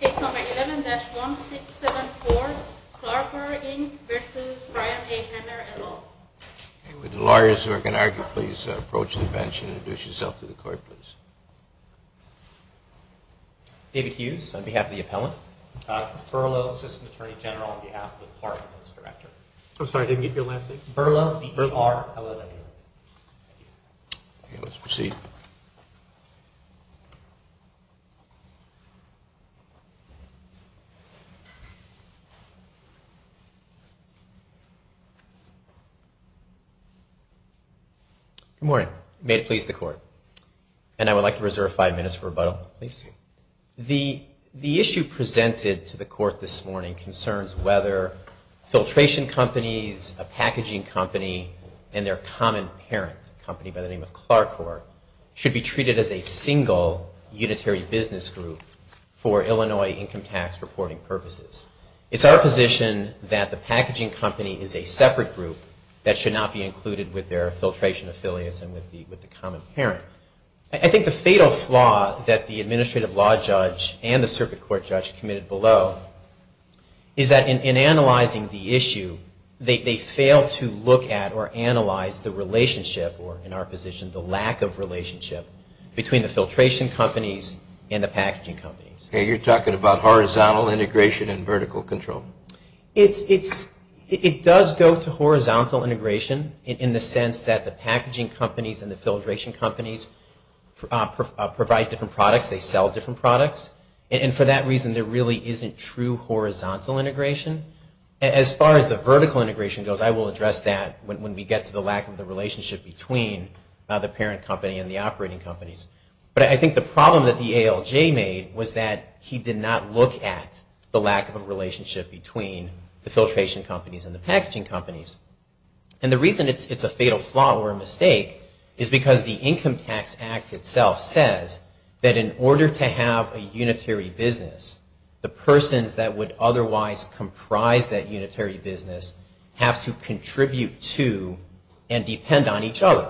Case number 11-1674, Clarker, Inc. v. Ryan A. Hamer, LL. Would the lawyers who are going to argue please approach the bench and introduce yourself to the court, please. David Hughes, on behalf of the appellant. Burlow, Assistant Attorney General, on behalf of the clerk and his director. I'm sorry, I didn't get your last name. Burlow, B-E-R-L-L-A-N-Y. Let's proceed. Good morning. May it please the court. And I would like to reserve five minutes for rebuttal, please. The issue presented to the court this morning concerns whether filtration companies, a packaging company and their common parent company by the name of Clarkor, should be treated as a single unitary business group for Illinois income tax reporting purposes. It's our position that the packaging company is a separate group that should not be included with their filtration affiliates and with the common parent. I think the fatal flaw that the administrative law judge and the circuit court judge committed below is that in analyzing the issue, they fail to look at or analyze the relationship or in our position the lack of relationship between the filtration companies and the packaging companies. You're talking about horizontal integration and vertical control. It does go to horizontal integration in the sense that the packaging companies and the filtration companies provide different products, they sell different products. And for that reason, there really isn't true horizontal integration. As far as the vertical integration goes, I will address that when we get to the lack of the relationship between the parent company and the operating companies. But I think the problem that the ALJ made was that he did not look at the lack of a relationship between the filtration companies and the packaging companies. And the reason it's a fatal flaw or a mistake is because the Income Tax Act itself says that in order to have a unitary business, the persons that would otherwise comprise that unitary business have to contribute to and depend on each other.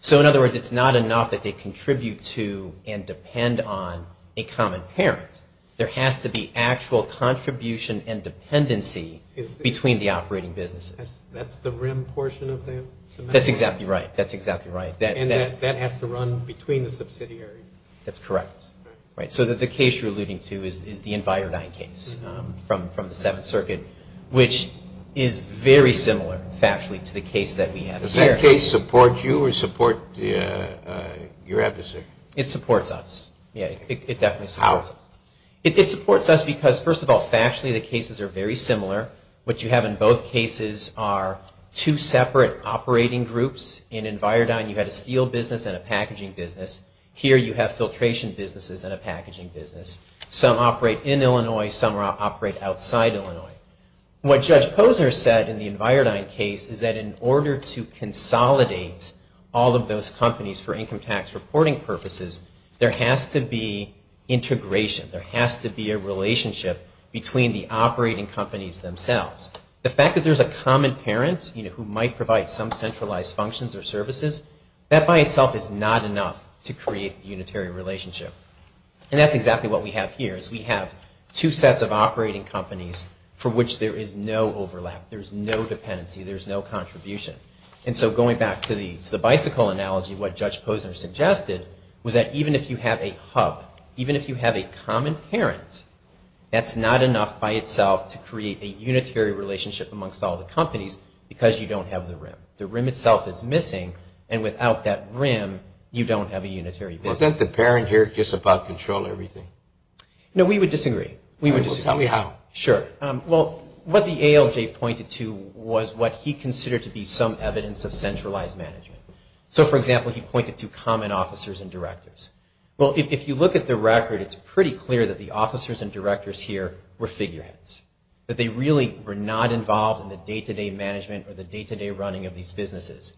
So in other words, it's not enough that they contribute to and depend on a common parent. There has to be actual contribution and dependency between the operating businesses. That's the rim portion of that? That's exactly right. And that has to run between the subsidiaries? That's correct. So the case you're alluding to is the Envirodyne case from the Seventh Circuit, which is very similar factually to the case that we have here. Does that case support you or support your adversary? It supports us. How? It supports us because, first of all, factually the cases are very similar. What you have in both cases are two separate operating groups. In Envirodyne you had a steel business and a packaging business. Here you have filtration businesses and a packaging business. Some operate in Illinois. Some operate outside Illinois. What Judge Posner said in the Envirodyne case is that in order to consolidate all of those companies for income tax reporting purposes, there has to be integration. There has to be a relationship between the operating companies themselves. The fact that there's a common parent who might provide some centralized functions or services, that by itself is not enough to create a unitary relationship. And that's exactly what we have here is we have two sets of operating companies for which there is no overlap. There's no dependency. There's no contribution. And so going back to the bicycle analogy, what Judge Posner suggested was that even if you have a hub, even if you have a common parent, that's not enough by itself to create a unitary relationship amongst all the companies because you don't have the rim. The rim itself is missing, and without that rim you don't have a unitary business. Well, isn't the parent here just about controlling everything? No, we would disagree. We would disagree. Tell me how. Sure. Well, what the ALJ pointed to was what he considered to be some evidence of centralized management. So, for example, he pointed to common officers and directors. Well, if you look at the record, it's pretty clear that the officers and directors here were figureheads, that they really were not involved in the day-to-day management or the day-to-day running of these businesses.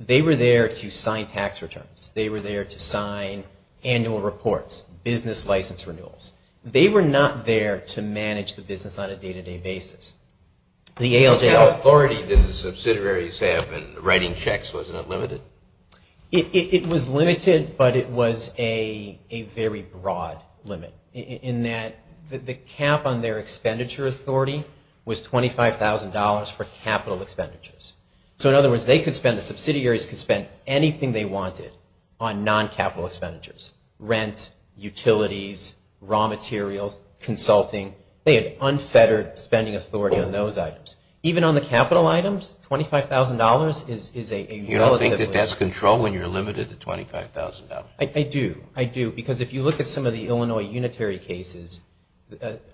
They were there to sign tax returns. They were there to sign annual reports, business license renewals. They were not there to manage the business on a day-to-day basis. The ALJ was. Wasn't it limited? It was limited, but it was a very broad limit in that the cap on their expenditure authority was $25,000 for capital expenditures. So, in other words, the subsidiaries could spend anything they wanted on non-capital expenditures, rent, utilities, raw materials, consulting. They had unfettered spending authority on those items. Even on the capital items, $25,000 is a relative limit. Do you think that that's control when you're limited to $25,000? I do. I do, because if you look at some of the Illinois unitary cases,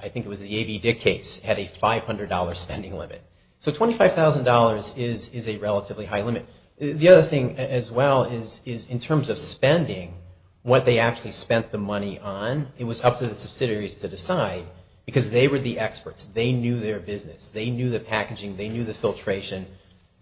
I think it was the A.B. Dick case, had a $500 spending limit. So, $25,000 is a relatively high limit. The other thing as well is in terms of spending, what they actually spent the money on, it was up to the subsidiaries to decide because they were the experts. They knew their business. They knew the packaging. They knew the filtration.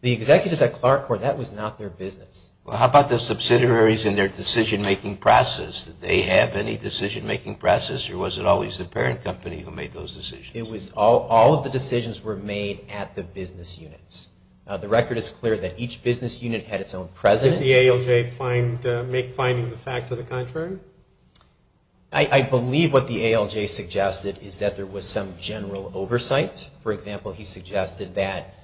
The executives at Clark were that was not their business. Well, how about the subsidiaries and their decision-making process? Did they have any decision-making process, or was it always the parent company who made those decisions? It was all of the decisions were made at the business units. The record is clear that each business unit had its own president. Did the ALJ make findings of fact or the contrary? I believe what the ALJ suggested is that there was some general oversight. For example, he suggested that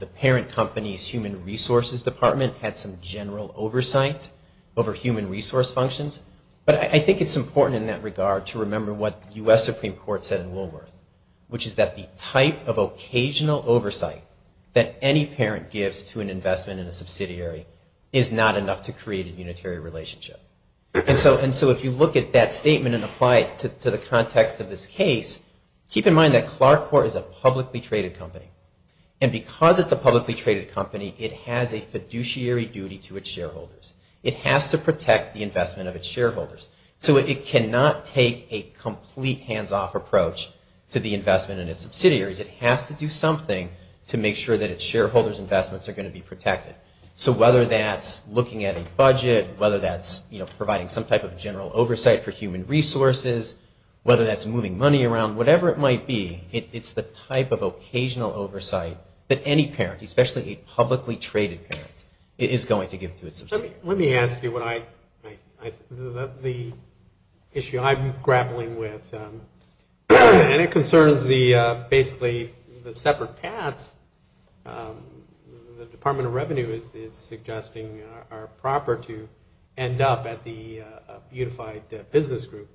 the parent company's human resources department had some general oversight over human resource functions. But I think it's important in that regard to remember what U.S. Supreme Court said in Woolworth, which is that the type of occasional oversight that any parent gives to an investment in a subsidiary is not enough to create a unitary relationship. And so if you look at that statement and apply it to the context of this case, keep in mind that Clark Corp. is a publicly traded company. And because it's a publicly traded company, it has a fiduciary duty to its shareholders. It has to protect the investment of its shareholders. So it cannot take a complete hands-off approach to the investment in its subsidiaries. It has to do something to make sure that its shareholders' investments are going to be protected. So whether that's looking at a budget, whether that's providing some type of general oversight for human resources, whether that's moving money around, whatever it might be, it's the type of occasional oversight that any parent, especially a publicly traded parent, is going to give to its subsidiary. Let me ask you the issue I'm grappling with. And it concerns basically the separate paths the Department of Revenue is suggesting are proper to end up at the unified business group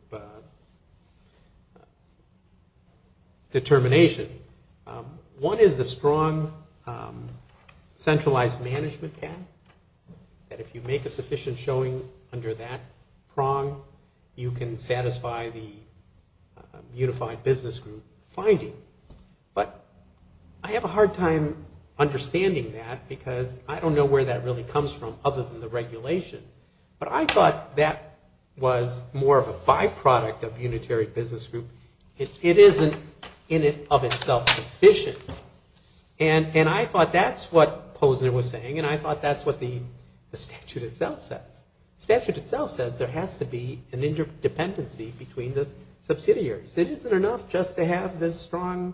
determination. One is the strong centralized management path, that if you make a sufficient showing under that prong, you can satisfy the unified business group finding. But I have a hard time understanding that because I don't know where that really comes from other than the regulation. But I thought that was more of a byproduct of unitary business group. It isn't in it of itself sufficient. And I thought that's what Posner was saying, and I thought that's what the statute itself says. The statute itself says there has to be an interdependency between the subsidiaries. It isn't enough just to have this strong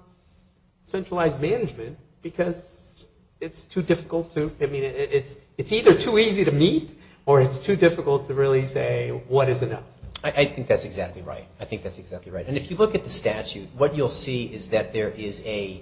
centralized management because it's too difficult to, I mean, it's either too easy to meet or it's too difficult to really say what is enough. I think that's exactly right. I think that's exactly right. And if you look at the statute, what you'll see is that there is a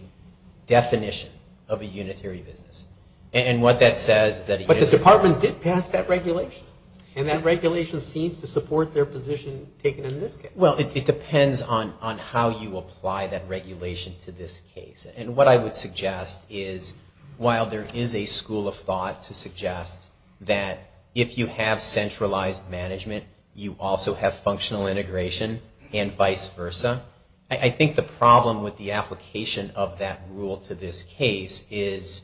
definition of a unitary business. And what that says is that a unitary business. But the department did pass that regulation. And that regulation seems to support their position taken in this case. Well, it depends on how you apply that regulation to this case. And what I would suggest is while there is a school of thought to suggest that if you have centralized management, you also have functional integration and vice versa. I think the problem with the application of that rule to this case is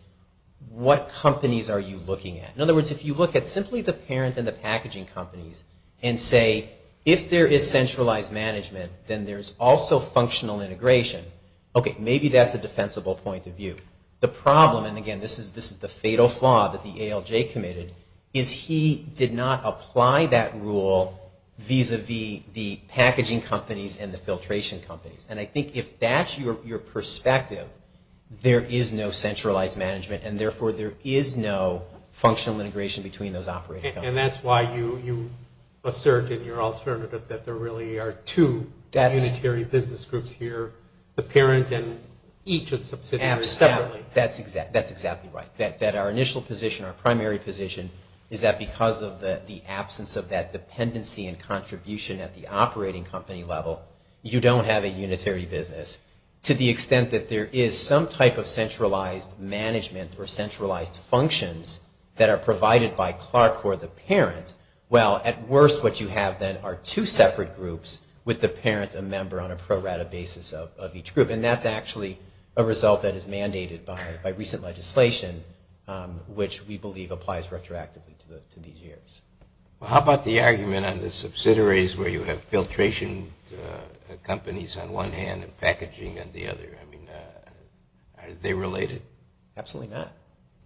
what companies are you looking at? In other words, if you look at simply the parent and the packaging companies and say, if there is centralized management, then there's also functional integration. Okay, maybe that's a defensible point of view. The problem, and again, this is the fatal flaw that the ALJ committed, is he did not apply that rule vis-a-vis the packaging companies and the filtration companies. And I think if that's your perspective, there is no centralized management, and therefore there is no functional integration between those operating companies. And that's why you assert in your alternative that there really are two unitary business groups here, the parent and each of the subsidiaries separately. That's exactly right. That our initial position, our primary position, is that because of the absence of that dependency and contribution at the operating company level, you don't have a unitary business to the extent that there is some type of centralized management or centralized functions that are provided by Clark or the parent. Well, at worst, what you have then are two separate groups with the parent, a member on a pro-rata basis of each group. And that's actually a result that is mandated by recent legislation, which we believe applies retroactively to these years. How about the argument on the subsidiaries where you have filtration companies on one hand and packaging on the other? I mean, are they related? Absolutely not.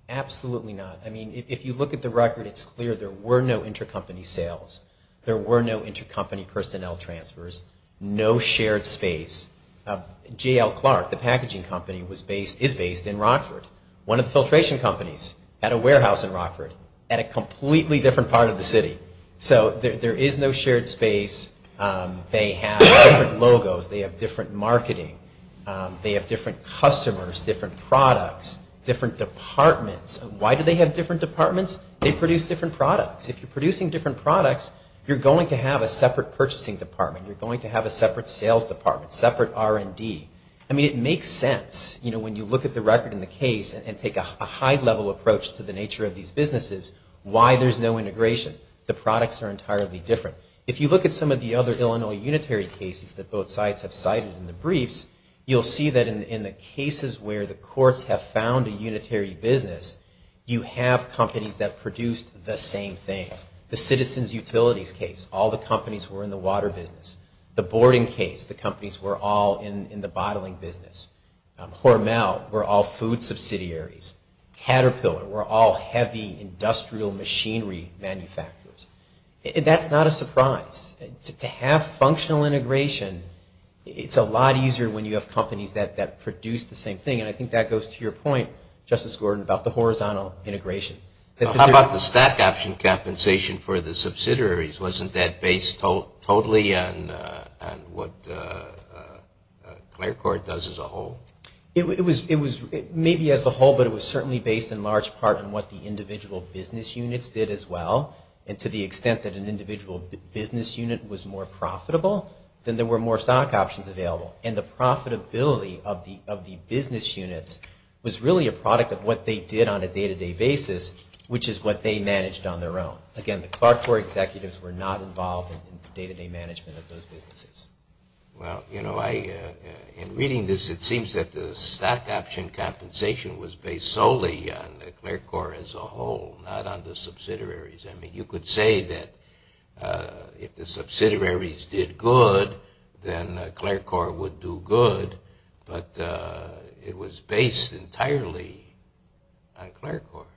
Absolutely not. I mean, if you look at the record, it's clear there were no intercompany sales. There were no intercompany personnel transfers. No shared space. J.L. Clark, the packaging company, is based in Rockford, one of the filtration companies at a warehouse in Rockford, at a completely different part of the city. So there is no shared space. They have different logos. They have different marketing. They have different customers, different products, different departments. Why do they have different departments? They produce different products. If you're producing different products, you're going to have a separate purchasing department. You're going to have a separate sales department, separate R&D. I mean, it makes sense. You know, when you look at the record in the case and take a high-level approach to the nature of these businesses, why there's no integration? The products are entirely different. If you look at some of the other Illinois unitary cases that both sides have cited in the briefs, you'll see that in the cases where the courts have found a unitary business, you have companies that produced the same thing. The citizens' utilities case, all the companies were in the water business. The boarding case, the companies were all in the bottling business. Hormel were all food subsidiaries. Caterpillar were all heavy industrial machinery manufacturers. That's not a surprise. To have functional integration, it's a lot easier when you have companies that produce the same thing. And I think that goes to your point, Justice Gordon, about the horizontal integration. How about the stock option compensation for the subsidiaries? Wasn't that based totally on what Clerc Court does as a whole? It was maybe as a whole, but it was certainly based in large part on what the individual business units did as well. And to the extent that an individual business unit was more profitable, then there were more stock options available. And the profitability of the business units was really a product of what they did on a day-to-day basis, which is what they managed on their own. Again, the Clerc Court executives were not involved in the day-to-day management of those businesses. Well, you know, in reading this, it seems that the stock option compensation was based solely on Clerc Court as a whole, not on the subsidiaries. I mean, you could say that if the subsidiaries did good, then Clerc Court would do good, but it was based entirely on Clerc Court.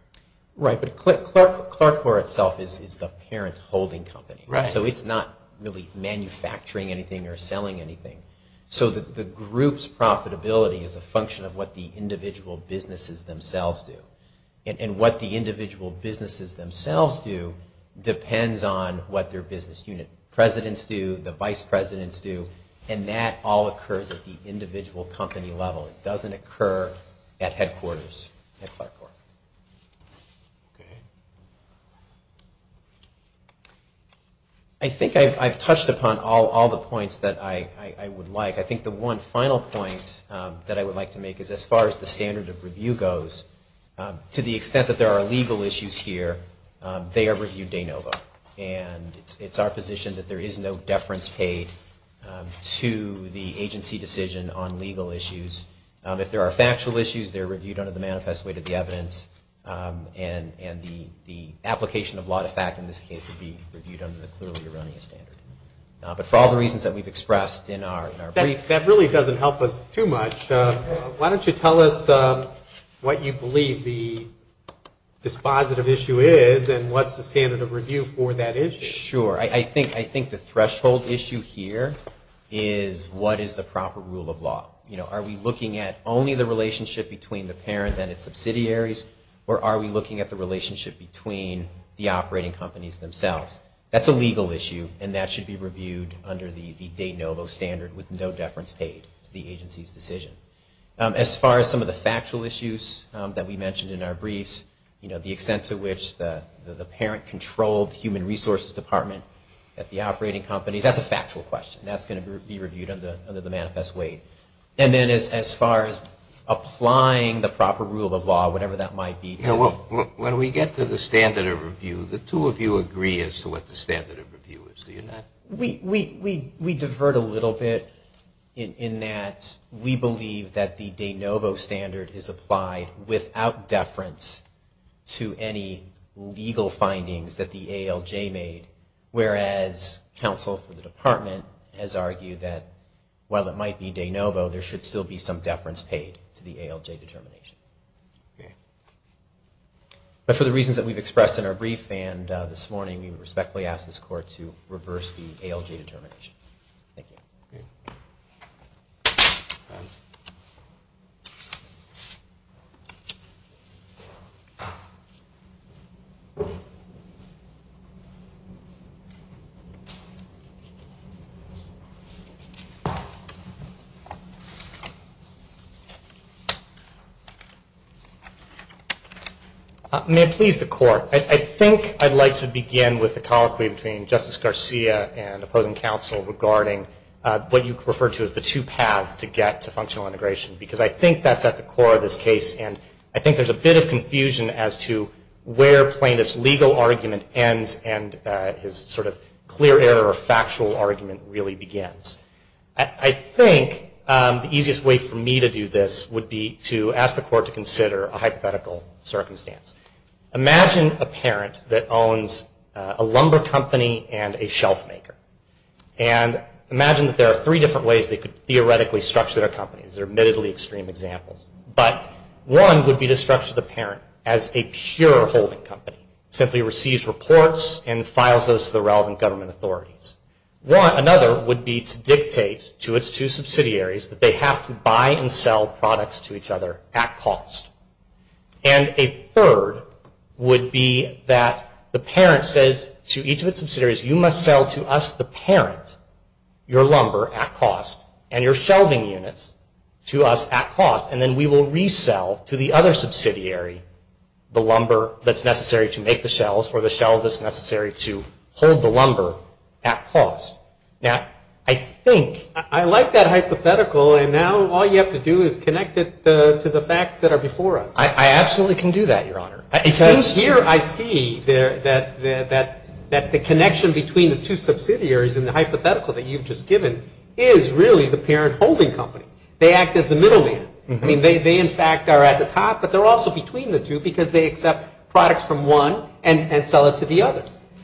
Right, but Clerc Court itself is the parent holding company. Right. So it's not really manufacturing anything or selling anything. So the group's profitability is a function of what the individual businesses themselves do and what the individual businesses themselves do depends on what their business unit presidents do, the vice presidents do, and that all occurs at the individual company level. It doesn't occur at headquarters at Clerc Court. I think I've touched upon all the points that I would like. I think the one final point that I would like to make is as far as the standard of review goes, to the extent that there are legal issues here, they are reviewed de novo, and it's our position that there is no deference paid to the agency decision on legal issues. If there are factual issues, they're reviewed under the manifest way to the evidence, and the application of law to fact in this case would be reviewed under the clearly erroneous standard. But for all the reasons that we've expressed in our brief... That really doesn't help us too much. Why don't you tell us what you believe the dispositive issue is and what's the standard of review for that issue? Sure. I think the threshold issue here is what is the proper rule of law. Are we looking at only the relationship between the parent and its subsidiaries, or are we looking at the relationship between the operating companies themselves? That's a legal issue, and that should be reviewed under the de novo standard with no deference paid to the agency's decision. As far as some of the factual issues that we mentioned in our briefs, the extent to which the parent controlled the human resources department at the operating companies, that's a factual question. That's going to be reviewed under the manifest way. And then as far as applying the proper rule of law, whatever that might be... When we get to the standard of review, the two of you agree as to what the standard of review is. Do you not? We divert a little bit in that we believe that the de novo standard is applied without deference to any legal findings that the ALJ made, whereas counsel for the department has argued that while it might be de novo, there should still be some deference paid to the ALJ determination. But for the reasons that we've expressed in our brief and this morning, we respectfully ask this court to reverse the ALJ determination. Thank you. Thank you. May it please the court, I think I'd like to begin with the colloquy between Justice Garcia and opposing counsel regarding what you referred to as the two paths to get to functional integration, because I think that's at the core of this case. And I think there's a bit of confusion as to where plaintiff's legal argument ends and his sort of clear error or factual argument really begins. I think the easiest way for me to do this would be to ask the court to consider a hypothetical circumstance. Imagine a parent that owns a lumber company and a shelf maker. And imagine that there are three different ways they could theoretically structure their company. These are admittedly extreme examples. But one would be to structure the parent as a pure holding company, simply receives reports and files those to the relevant government authorities. Another would be to dictate to its two subsidiaries that they have to buy and sell products to each other at cost. And a third would be that the parent says to each of its subsidiaries, you must sell to us, the parent, your lumber at cost and your shelving units to us at cost. And then we will resell to the other subsidiary the lumber that's necessary to make the shelves or the shelf that's necessary to hold the lumber at cost. Now, I think... I absolutely can do that, Your Honor. It seems here I see that the connection between the two subsidiaries and the hypothetical that you've just given is really the parent holding company. They act as the middle man. I mean, they in fact are at the top, but they're also between the two because they accept products from one and sell it to the other.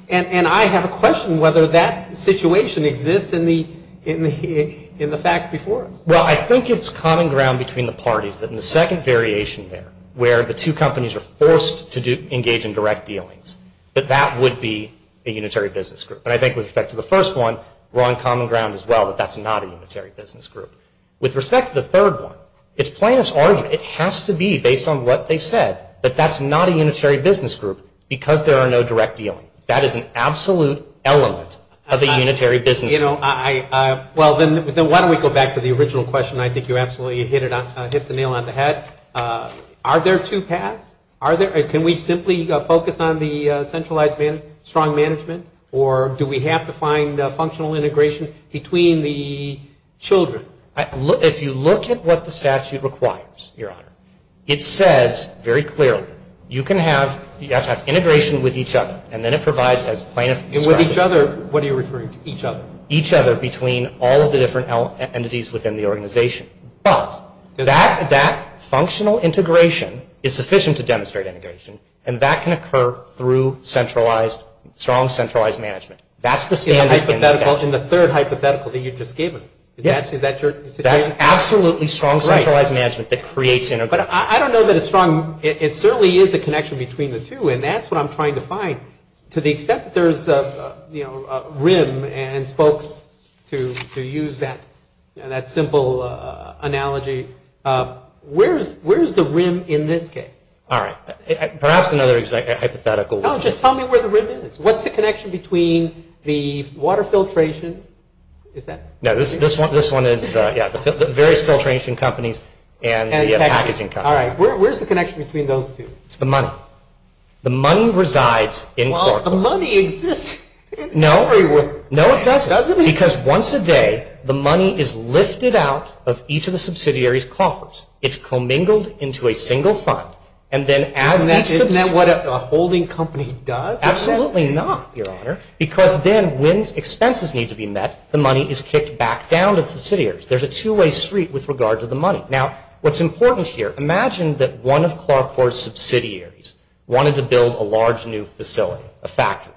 And I have a question whether that situation exists in the fact before us. Well, I think it's common ground between the parties that in the second variation there where the two companies are forced to engage in direct dealings, that that would be a unitary business group. And I think with respect to the first one, we're on common ground as well that that's not a unitary business group. With respect to the third one, it's plaintiff's argument. It has to be based on what they said that that's not a unitary business group because there are no direct dealings. That is an absolute element of a unitary business group. Well, then why don't we go back to the original question. I think you absolutely hit the nail on the head. Are there two paths? Can we simply focus on the centralized strong management or do we have to find functional integration between the children? If you look at what the statute requires, Your Honor, it says very clearly you have to have integration with each other and then it provides as plaintiff's argument. And with each other, what are you referring to, each other? Each other between all of the different entities within the organization. But that functional integration is sufficient to demonstrate integration and that can occur through strong centralized management. That's the standard in the statute. In the third hypothetical that you just gave us. Yes. Is that your suggestion? That's absolutely strong centralized management that creates integration. But I don't know that it's strong. It certainly is a connection between the two and that's what I'm trying to find. To the extent that there's a rim and spokes to use that simple analogy, where's the rim in this case? All right. Perhaps another hypothetical. No, just tell me where the rim is. What's the connection between the water filtration? Is that? No, this one is the various filtration companies and the packaging companies. All right. Where's the connection between those two? It's the money. The money resides in Clarkport. Well, the money exists. No, it doesn't. Because once a day, the money is lifted out of each of the subsidiary's coffers. It's commingled into a single fund. Isn't that what a holding company does? Absolutely not, Your Honor, because then when expenses need to be met, the money is kicked back down to the subsidiaries. There's a two-way street with regard to the money. Now, what's important here, imagine that one of Clarkport's subsidiaries wanted to build a large new facility, a factory.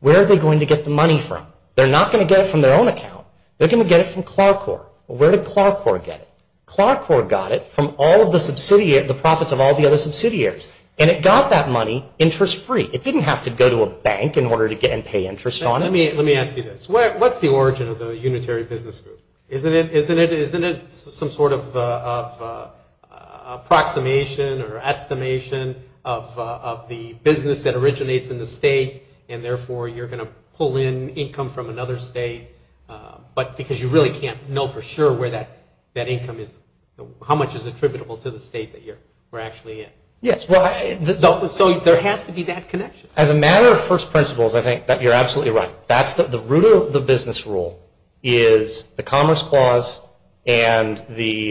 Where are they going to get the money from? They're not going to get it from their own account. They're going to get it from Clarkport. Well, where did Clarkport get it? Clarkport got it from all of the profits of all the other subsidiaries, and it got that money interest-free. It didn't have to go to a bank in order to get and pay interest on it. Let me ask you this. What's the origin of the Unitary Business Group? Isn't it some sort of approximation or estimation of the business that originates in the state, and therefore you're going to pull in income from another state because you really can't know for sure how much is attributable to the state that you're actually in? Yes. So there has to be that connection. As a matter of first principles, I think that you're absolutely right. That's the root of the business rule is the Commerce Clause and the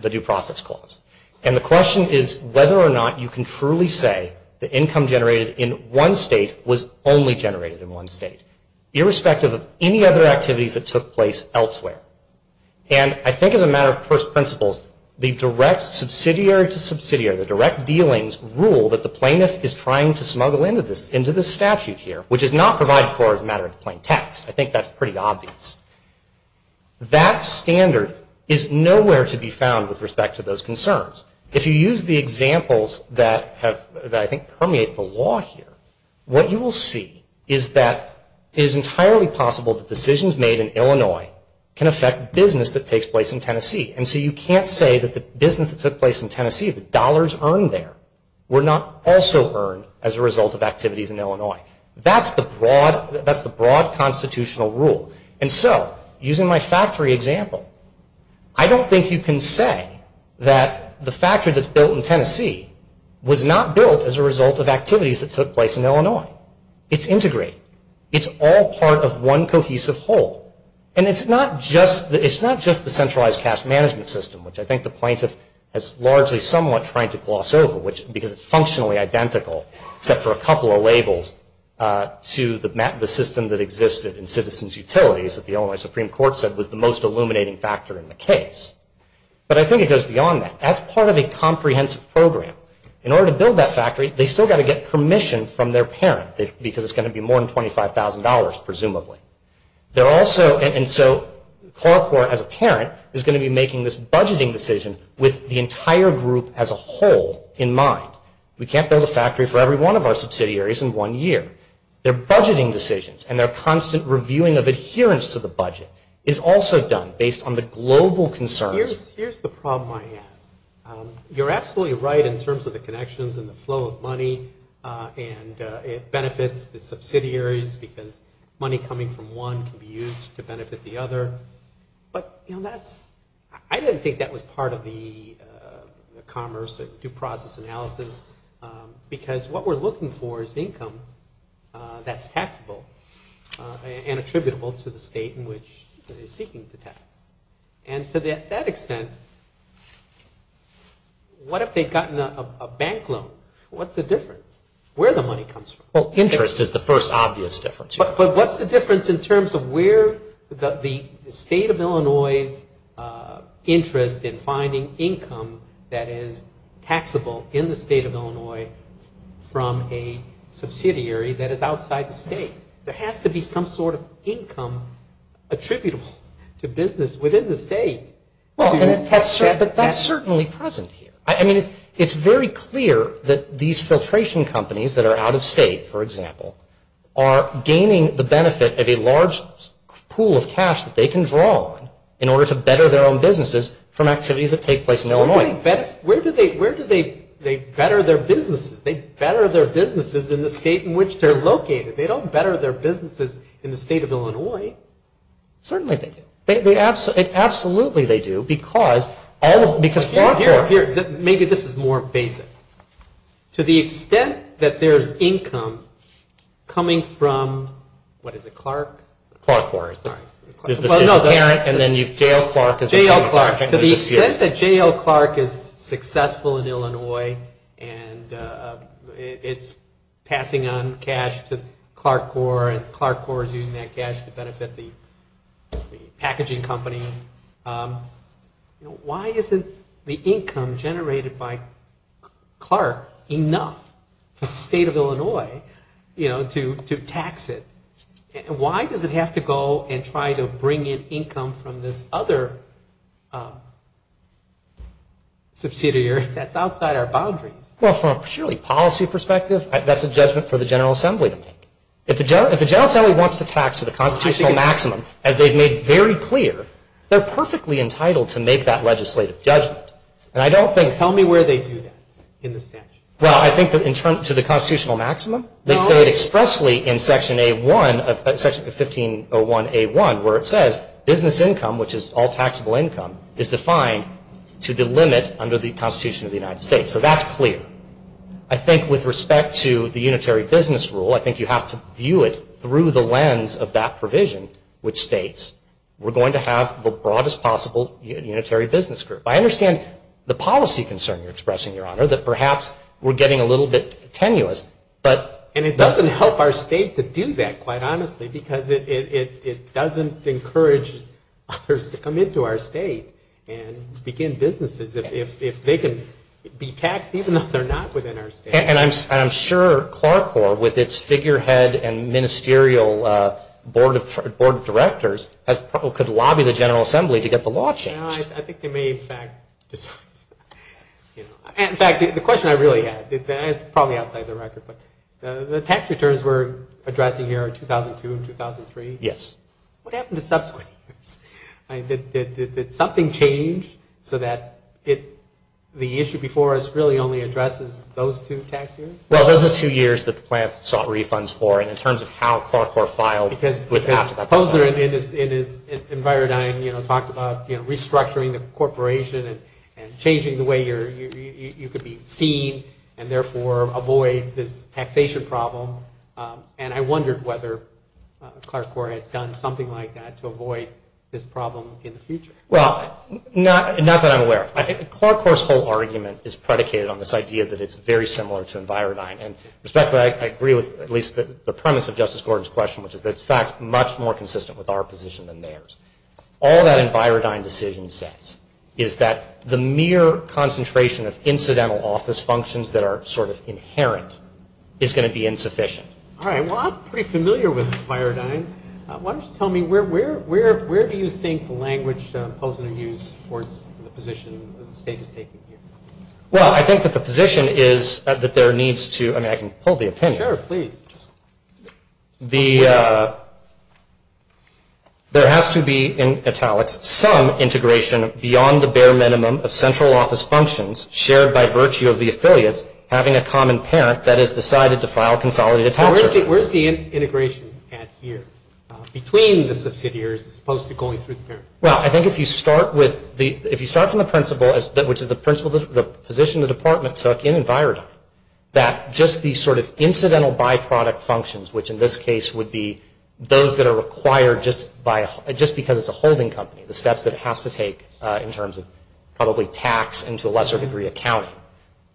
Due Process Clause. And the question is whether or not you can truly say the income generated in one state was only generated in one state, irrespective of any other activities that took place elsewhere. And I think as a matter of first principles, the direct subsidiary to subsidiary, the direct dealings rule that the plaintiff is trying to smuggle into this statute here, which is not provided for as a matter of plain text. I think that's pretty obvious. That standard is nowhere to be found with respect to those concerns. If you use the examples that I think permeate the law here, what you will see is that it is entirely possible that decisions made in Illinois can affect business that takes place in Tennessee. And so you can't say that the business that took place in Tennessee, the dollars earned there, were not also earned as a result of activities in Illinois. That's the broad constitutional rule. And so using my factory example, I don't think you can say that the factory that's built in Tennessee was not built as a result of activities that took place in Illinois. It's integrated. It's all part of one cohesive whole. And it's not just the centralized cash management system, which I think the plaintiff is largely somewhat trying to gloss over, because it's functionally identical, except for a couple of labels to the system that existed in citizens' utilities that the Illinois Supreme Court said was the most illuminating factor in the case. But I think it goes beyond that. That's part of a comprehensive program. In order to build that factory, they've still got to get permission from their parent, because it's going to be more than $25,000, presumably. And so CoraCore, as a parent, is going to be making this budgeting decision with the entire group as a whole in mind. We can't build a factory for every one of our subsidiaries in one year. Their budgeting decisions and their constant reviewing of adherence to the budget is also done based on the global concerns. Here's the problem I have. You're absolutely right in terms of the connections and the flow of money, and it benefits the subsidiaries, because money coming from one can be used to benefit the other. I didn't think that was part of the commerce, the due process analysis, because what we're looking for is income that's taxable and attributable to the state in which it is seeking to tax. And to that extent, what if they'd gotten a bank loan? What's the difference? Where the money comes from? Well, interest is the first obvious difference. But what's the difference in terms of where the state of Illinois' interest in finding income that is taxable in the state of Illinois from a subsidiary that is outside the state? There has to be some sort of income attributable to business within the state. Well, but that's certainly present here. I mean, it's very clear that these filtration companies that are out of state, for example, are gaining the benefit of a large pool of cash that they can draw on in order to better their own businesses from activities that take place in Illinois. Where do they better their businesses? They better their businesses in the state in which they're located. They don't better their businesses in the state of Illinois. Certainly they do. Absolutely they do because Clark Corp. Here, maybe this is more basic. To the extent that there's income coming from, what is it, Clark? Clark Corp. Sorry. This is a parent, and then J.L. Clark is a parent. J.L. Clark. To the extent that J.L. Clark is successful in Illinois and it's passing on cash to Clark Corp. and Clark Corp. is using that cash to benefit the packaging company, why isn't the income generated by Clark enough for the state of Illinois to tax it? Why does it have to go and try to bring in income from this other subsidiary that's outside our boundaries? Well, from a purely policy perspective, that's a judgment for the General Assembly to make. If the General Assembly wants to tax to the constitutional maximum, as they've made very clear, they're perfectly entitled to make that legislative judgment. And I don't think. Tell me where they do that in the statute. Well, I think that in terms of the constitutional maximum, they say it expressly in Section A1, Section 1501A1, where it says business income, which is all taxable income, is defined to the limit under the Constitution of the United States. So that's clear. I think with respect to the unitary business rule, I think you have to view it through the lens of that provision, which states, we're going to have the broadest possible unitary business group. I understand the policy concern you're expressing, Your Honor, that perhaps we're getting a little bit tenuous. And it doesn't help our state to do that, quite honestly, because it doesn't encourage others to come into our state and begin businesses. If they can be taxed, even though they're not within our state. And I'm sure CLARCORP, with its figurehead and ministerial board of directors, could lobby the General Assembly to get the law changed. I think they may, in fact, decide. In fact, the question I really had, and it's probably outside the record, but the tax returns we're addressing here are 2002 and 2003. Yes. What happened to subsequent years? Did something change so that the issue before us really only addresses those two tax years? Well, those are the two years that the plan sought refunds for, and in terms of how CLARCORP filed after that process. Because Posner, in his envirodyne, talked about restructuring the corporation and changing the way you could be seen and, therefore, avoid this taxation problem. And I wondered whether CLARCORP had done something like that to avoid this problem in the future. Well, not that I'm aware of. CLARCORP's whole argument is predicated on this idea that it's very similar to envirodyne. And respectfully, I agree with at least the premise of Justice Gordon's question, which is that it's, in fact, much more consistent with our position than theirs. All that envirodyne decision says is that the mere concentration of incidental office functions that are sort of inherent is going to be insufficient. All right. Well, I'm pretty familiar with envirodyne. Why don't you tell me, where do you think the language Posner used for the position the State is taking here? Well, I think that the position is that there needs to – I mean, I can hold the opinion. Sure, please. There has to be, in italics, some integration beyond the bare minimum of central office functions shared by virtue of the affiliates having a common parent that has decided to file consolidated tax returns. So where's the integration at here? Between the subsidiaries as opposed to going through the parent? Well, I think if you start from the principle, which is the position the department took in envirodyne, that just the sort of incidental byproduct functions, which in this case would be those that are required just because it's a holding company, the steps that it has to take in terms of probably tax and to a lesser degree accounting,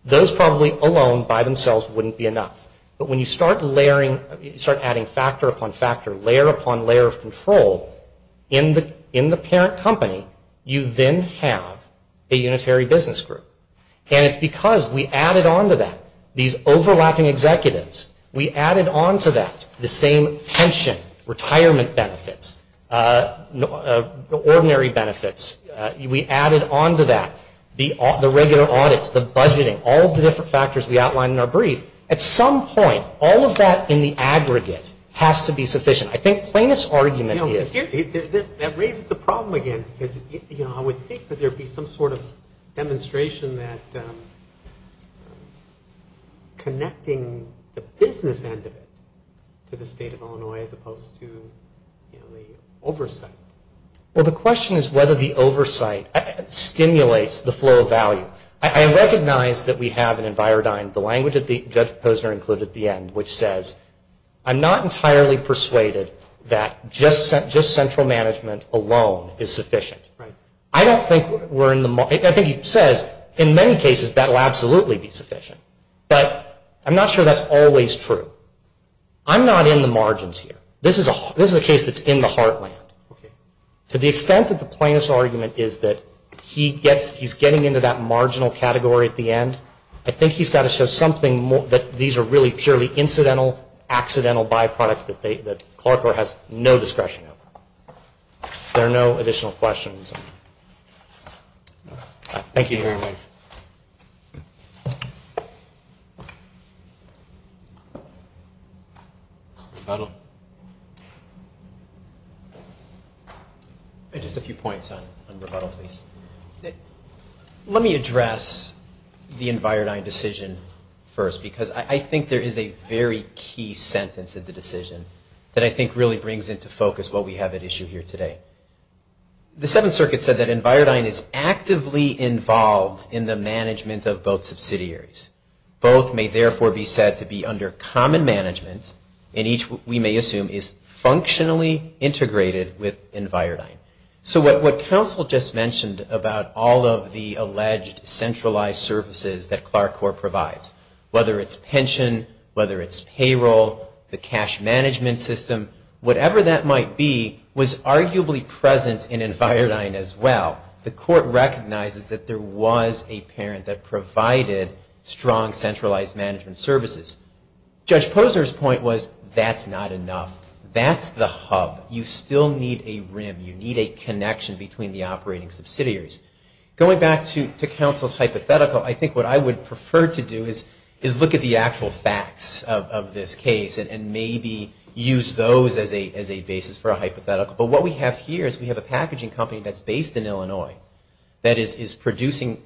those probably alone by themselves wouldn't be enough. But when you start layering, start adding factor upon factor, layer upon layer of control in the parent company, you then have a unitary business group. And it's because we added on to that these overlapping executives, we added on to that the same pension, retirement benefits, ordinary benefits. We added on to that the regular audits, the budgeting, all of the different factors we outlined in our brief. At some point, all of that in the aggregate has to be sufficient. I think Plano's argument is. That raises the problem again because I would think that there would be some sort of demonstration that connecting the business end of it to the state of Illinois as opposed to the oversight. Well, the question is whether the oversight stimulates the flow of value. I recognize that we have in envirodyne the language that Judge Posner included at the end, which says, I'm not entirely persuaded that just central management alone is sufficient. I don't think we're in the, I think he says in many cases that will absolutely be sufficient. But I'm not sure that's always true. I'm not in the margins here. This is a case that's in the heartland. To the extent that the Plano's argument is that he's getting into that marginal category at the end, I think he's got to show something that these are really purely incidental, accidental byproducts that Clarkborough has no discretion over. If there are no additional questions. Thank you very much. Rebuttal. Just a few points on rebuttal, please. Let me address the envirodyne decision first because I think there is a very key sentence in the decision that I think really brings into focus what we have at issue here today. The Seventh Circuit said that envirodyne is actively involved in the management of both subsidiaries. Both may therefore be said to be under common management and each we may assume is functionally integrated with envirodyne. So what counsel just mentioned about all of the alleged centralized services that Clark Corps provides, whether it's pension, whether it's payroll, the cash management system, whatever that might be was arguably present in envirodyne as well. The court recognizes that there was a parent that provided strong centralized management services. Judge Posner's point was that's not enough. That's the hub. You still need a rim. You need a connection between the operating subsidiaries. Going back to counsel's hypothetical, I think what I would prefer to do is look at the actual facts of this case and maybe use those as a basis for a hypothetical. But what we have here is we have a packaging company that's based in Illinois that is producing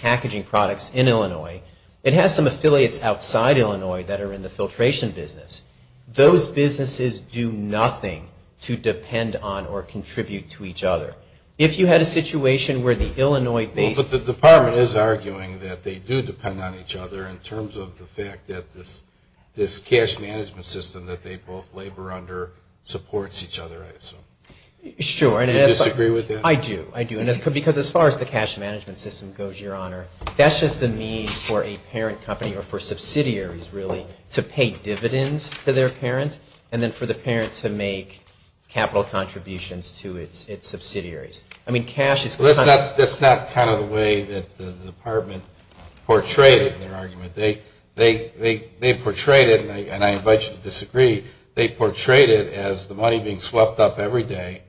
packaging products in Illinois. It has some affiliates outside Illinois that are in the filtration business. Those businesses do nothing to depend on or contribute to each other. If you had a situation where the Illinois- But the department is arguing that they do depend on each other in terms of the fact that this cash management system that they both labor under supports each other. Sure. Do you disagree with that? I do. I do. Because as far as the cash management system goes, Your Honor, that's just the means for a parent company or for subsidiaries really to pay dividends to their parent and then for the parent to make capital contributions to its subsidiaries. I mean, cash is- That's not kind of the way that the department portrayed it in their argument. They portrayed it, and I invite you to disagree, they portrayed it as the money being swept up every day,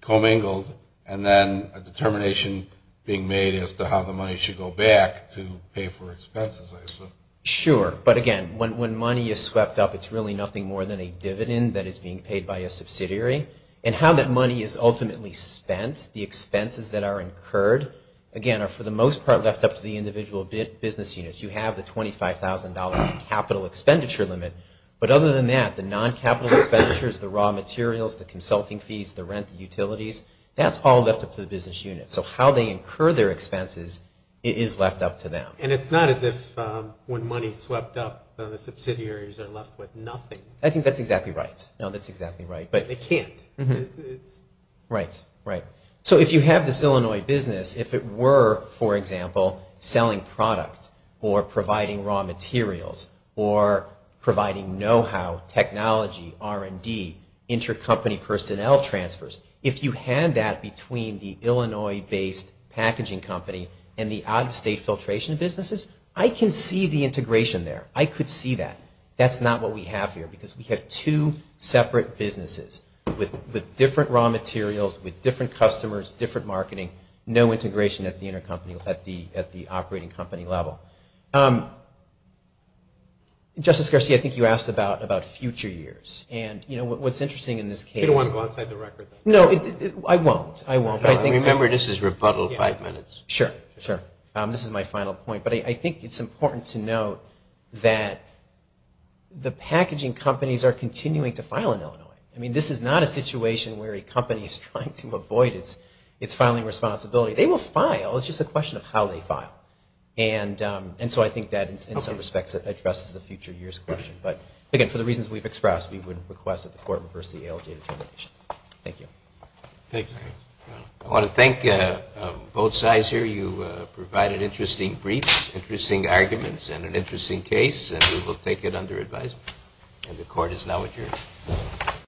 commingled, and then a determination being made as to how the money should go back to pay for expenses, I assume. Sure. But, again, when money is swept up, it's really nothing more than a dividend that is being paid by a subsidiary. And how that money is ultimately spent, the expenses that are incurred, again, are for the most part left up to the individual business units. You have the $25,000 capital expenditure limit. But other than that, the non-capital expenditures, the raw materials, the consulting fees, the rent, the utilities, that's all left up to the business units. So how they incur their expenses is left up to them. And it's not as if when money is swept up, the subsidiaries are left with nothing. I think that's exactly right. No, that's exactly right. They can't. Right. Right. So if you have this Illinois business, if it were, for example, selling product or providing raw materials or providing know-how, technology, R&D, intercompany personnel transfers, if you had that between the Illinois-based packaging company and the out-of-state filtration businesses, I can see the integration there. I could see that. That's not what we have here because we have two separate businesses with different raw materials, with different customers, different marketing, no integration at the operating company level. Justice Garcia, I think you asked about future years. And, you know, what's interesting in this case. You don't want to go outside the record. No, I won't. I won't. Remember, this is rebuttal five minutes. Sure. Sure. This is my final point. But I think it's important to note that the packaging companies are continuing to file in Illinois. I mean, this is not a situation where a company is trying to avoid its filing responsibility. They will file. It's just a question of how they file. And so I think that, in some respects, addresses the future years question. But, again, for the reasons we've expressed, we would request that the court reverse the ALJ determination. Thank you. Thank you. I want to thank both sides here. You provided interesting briefs, interesting arguments, and an interesting case. And we will take it under advisement. And the court is now adjourned.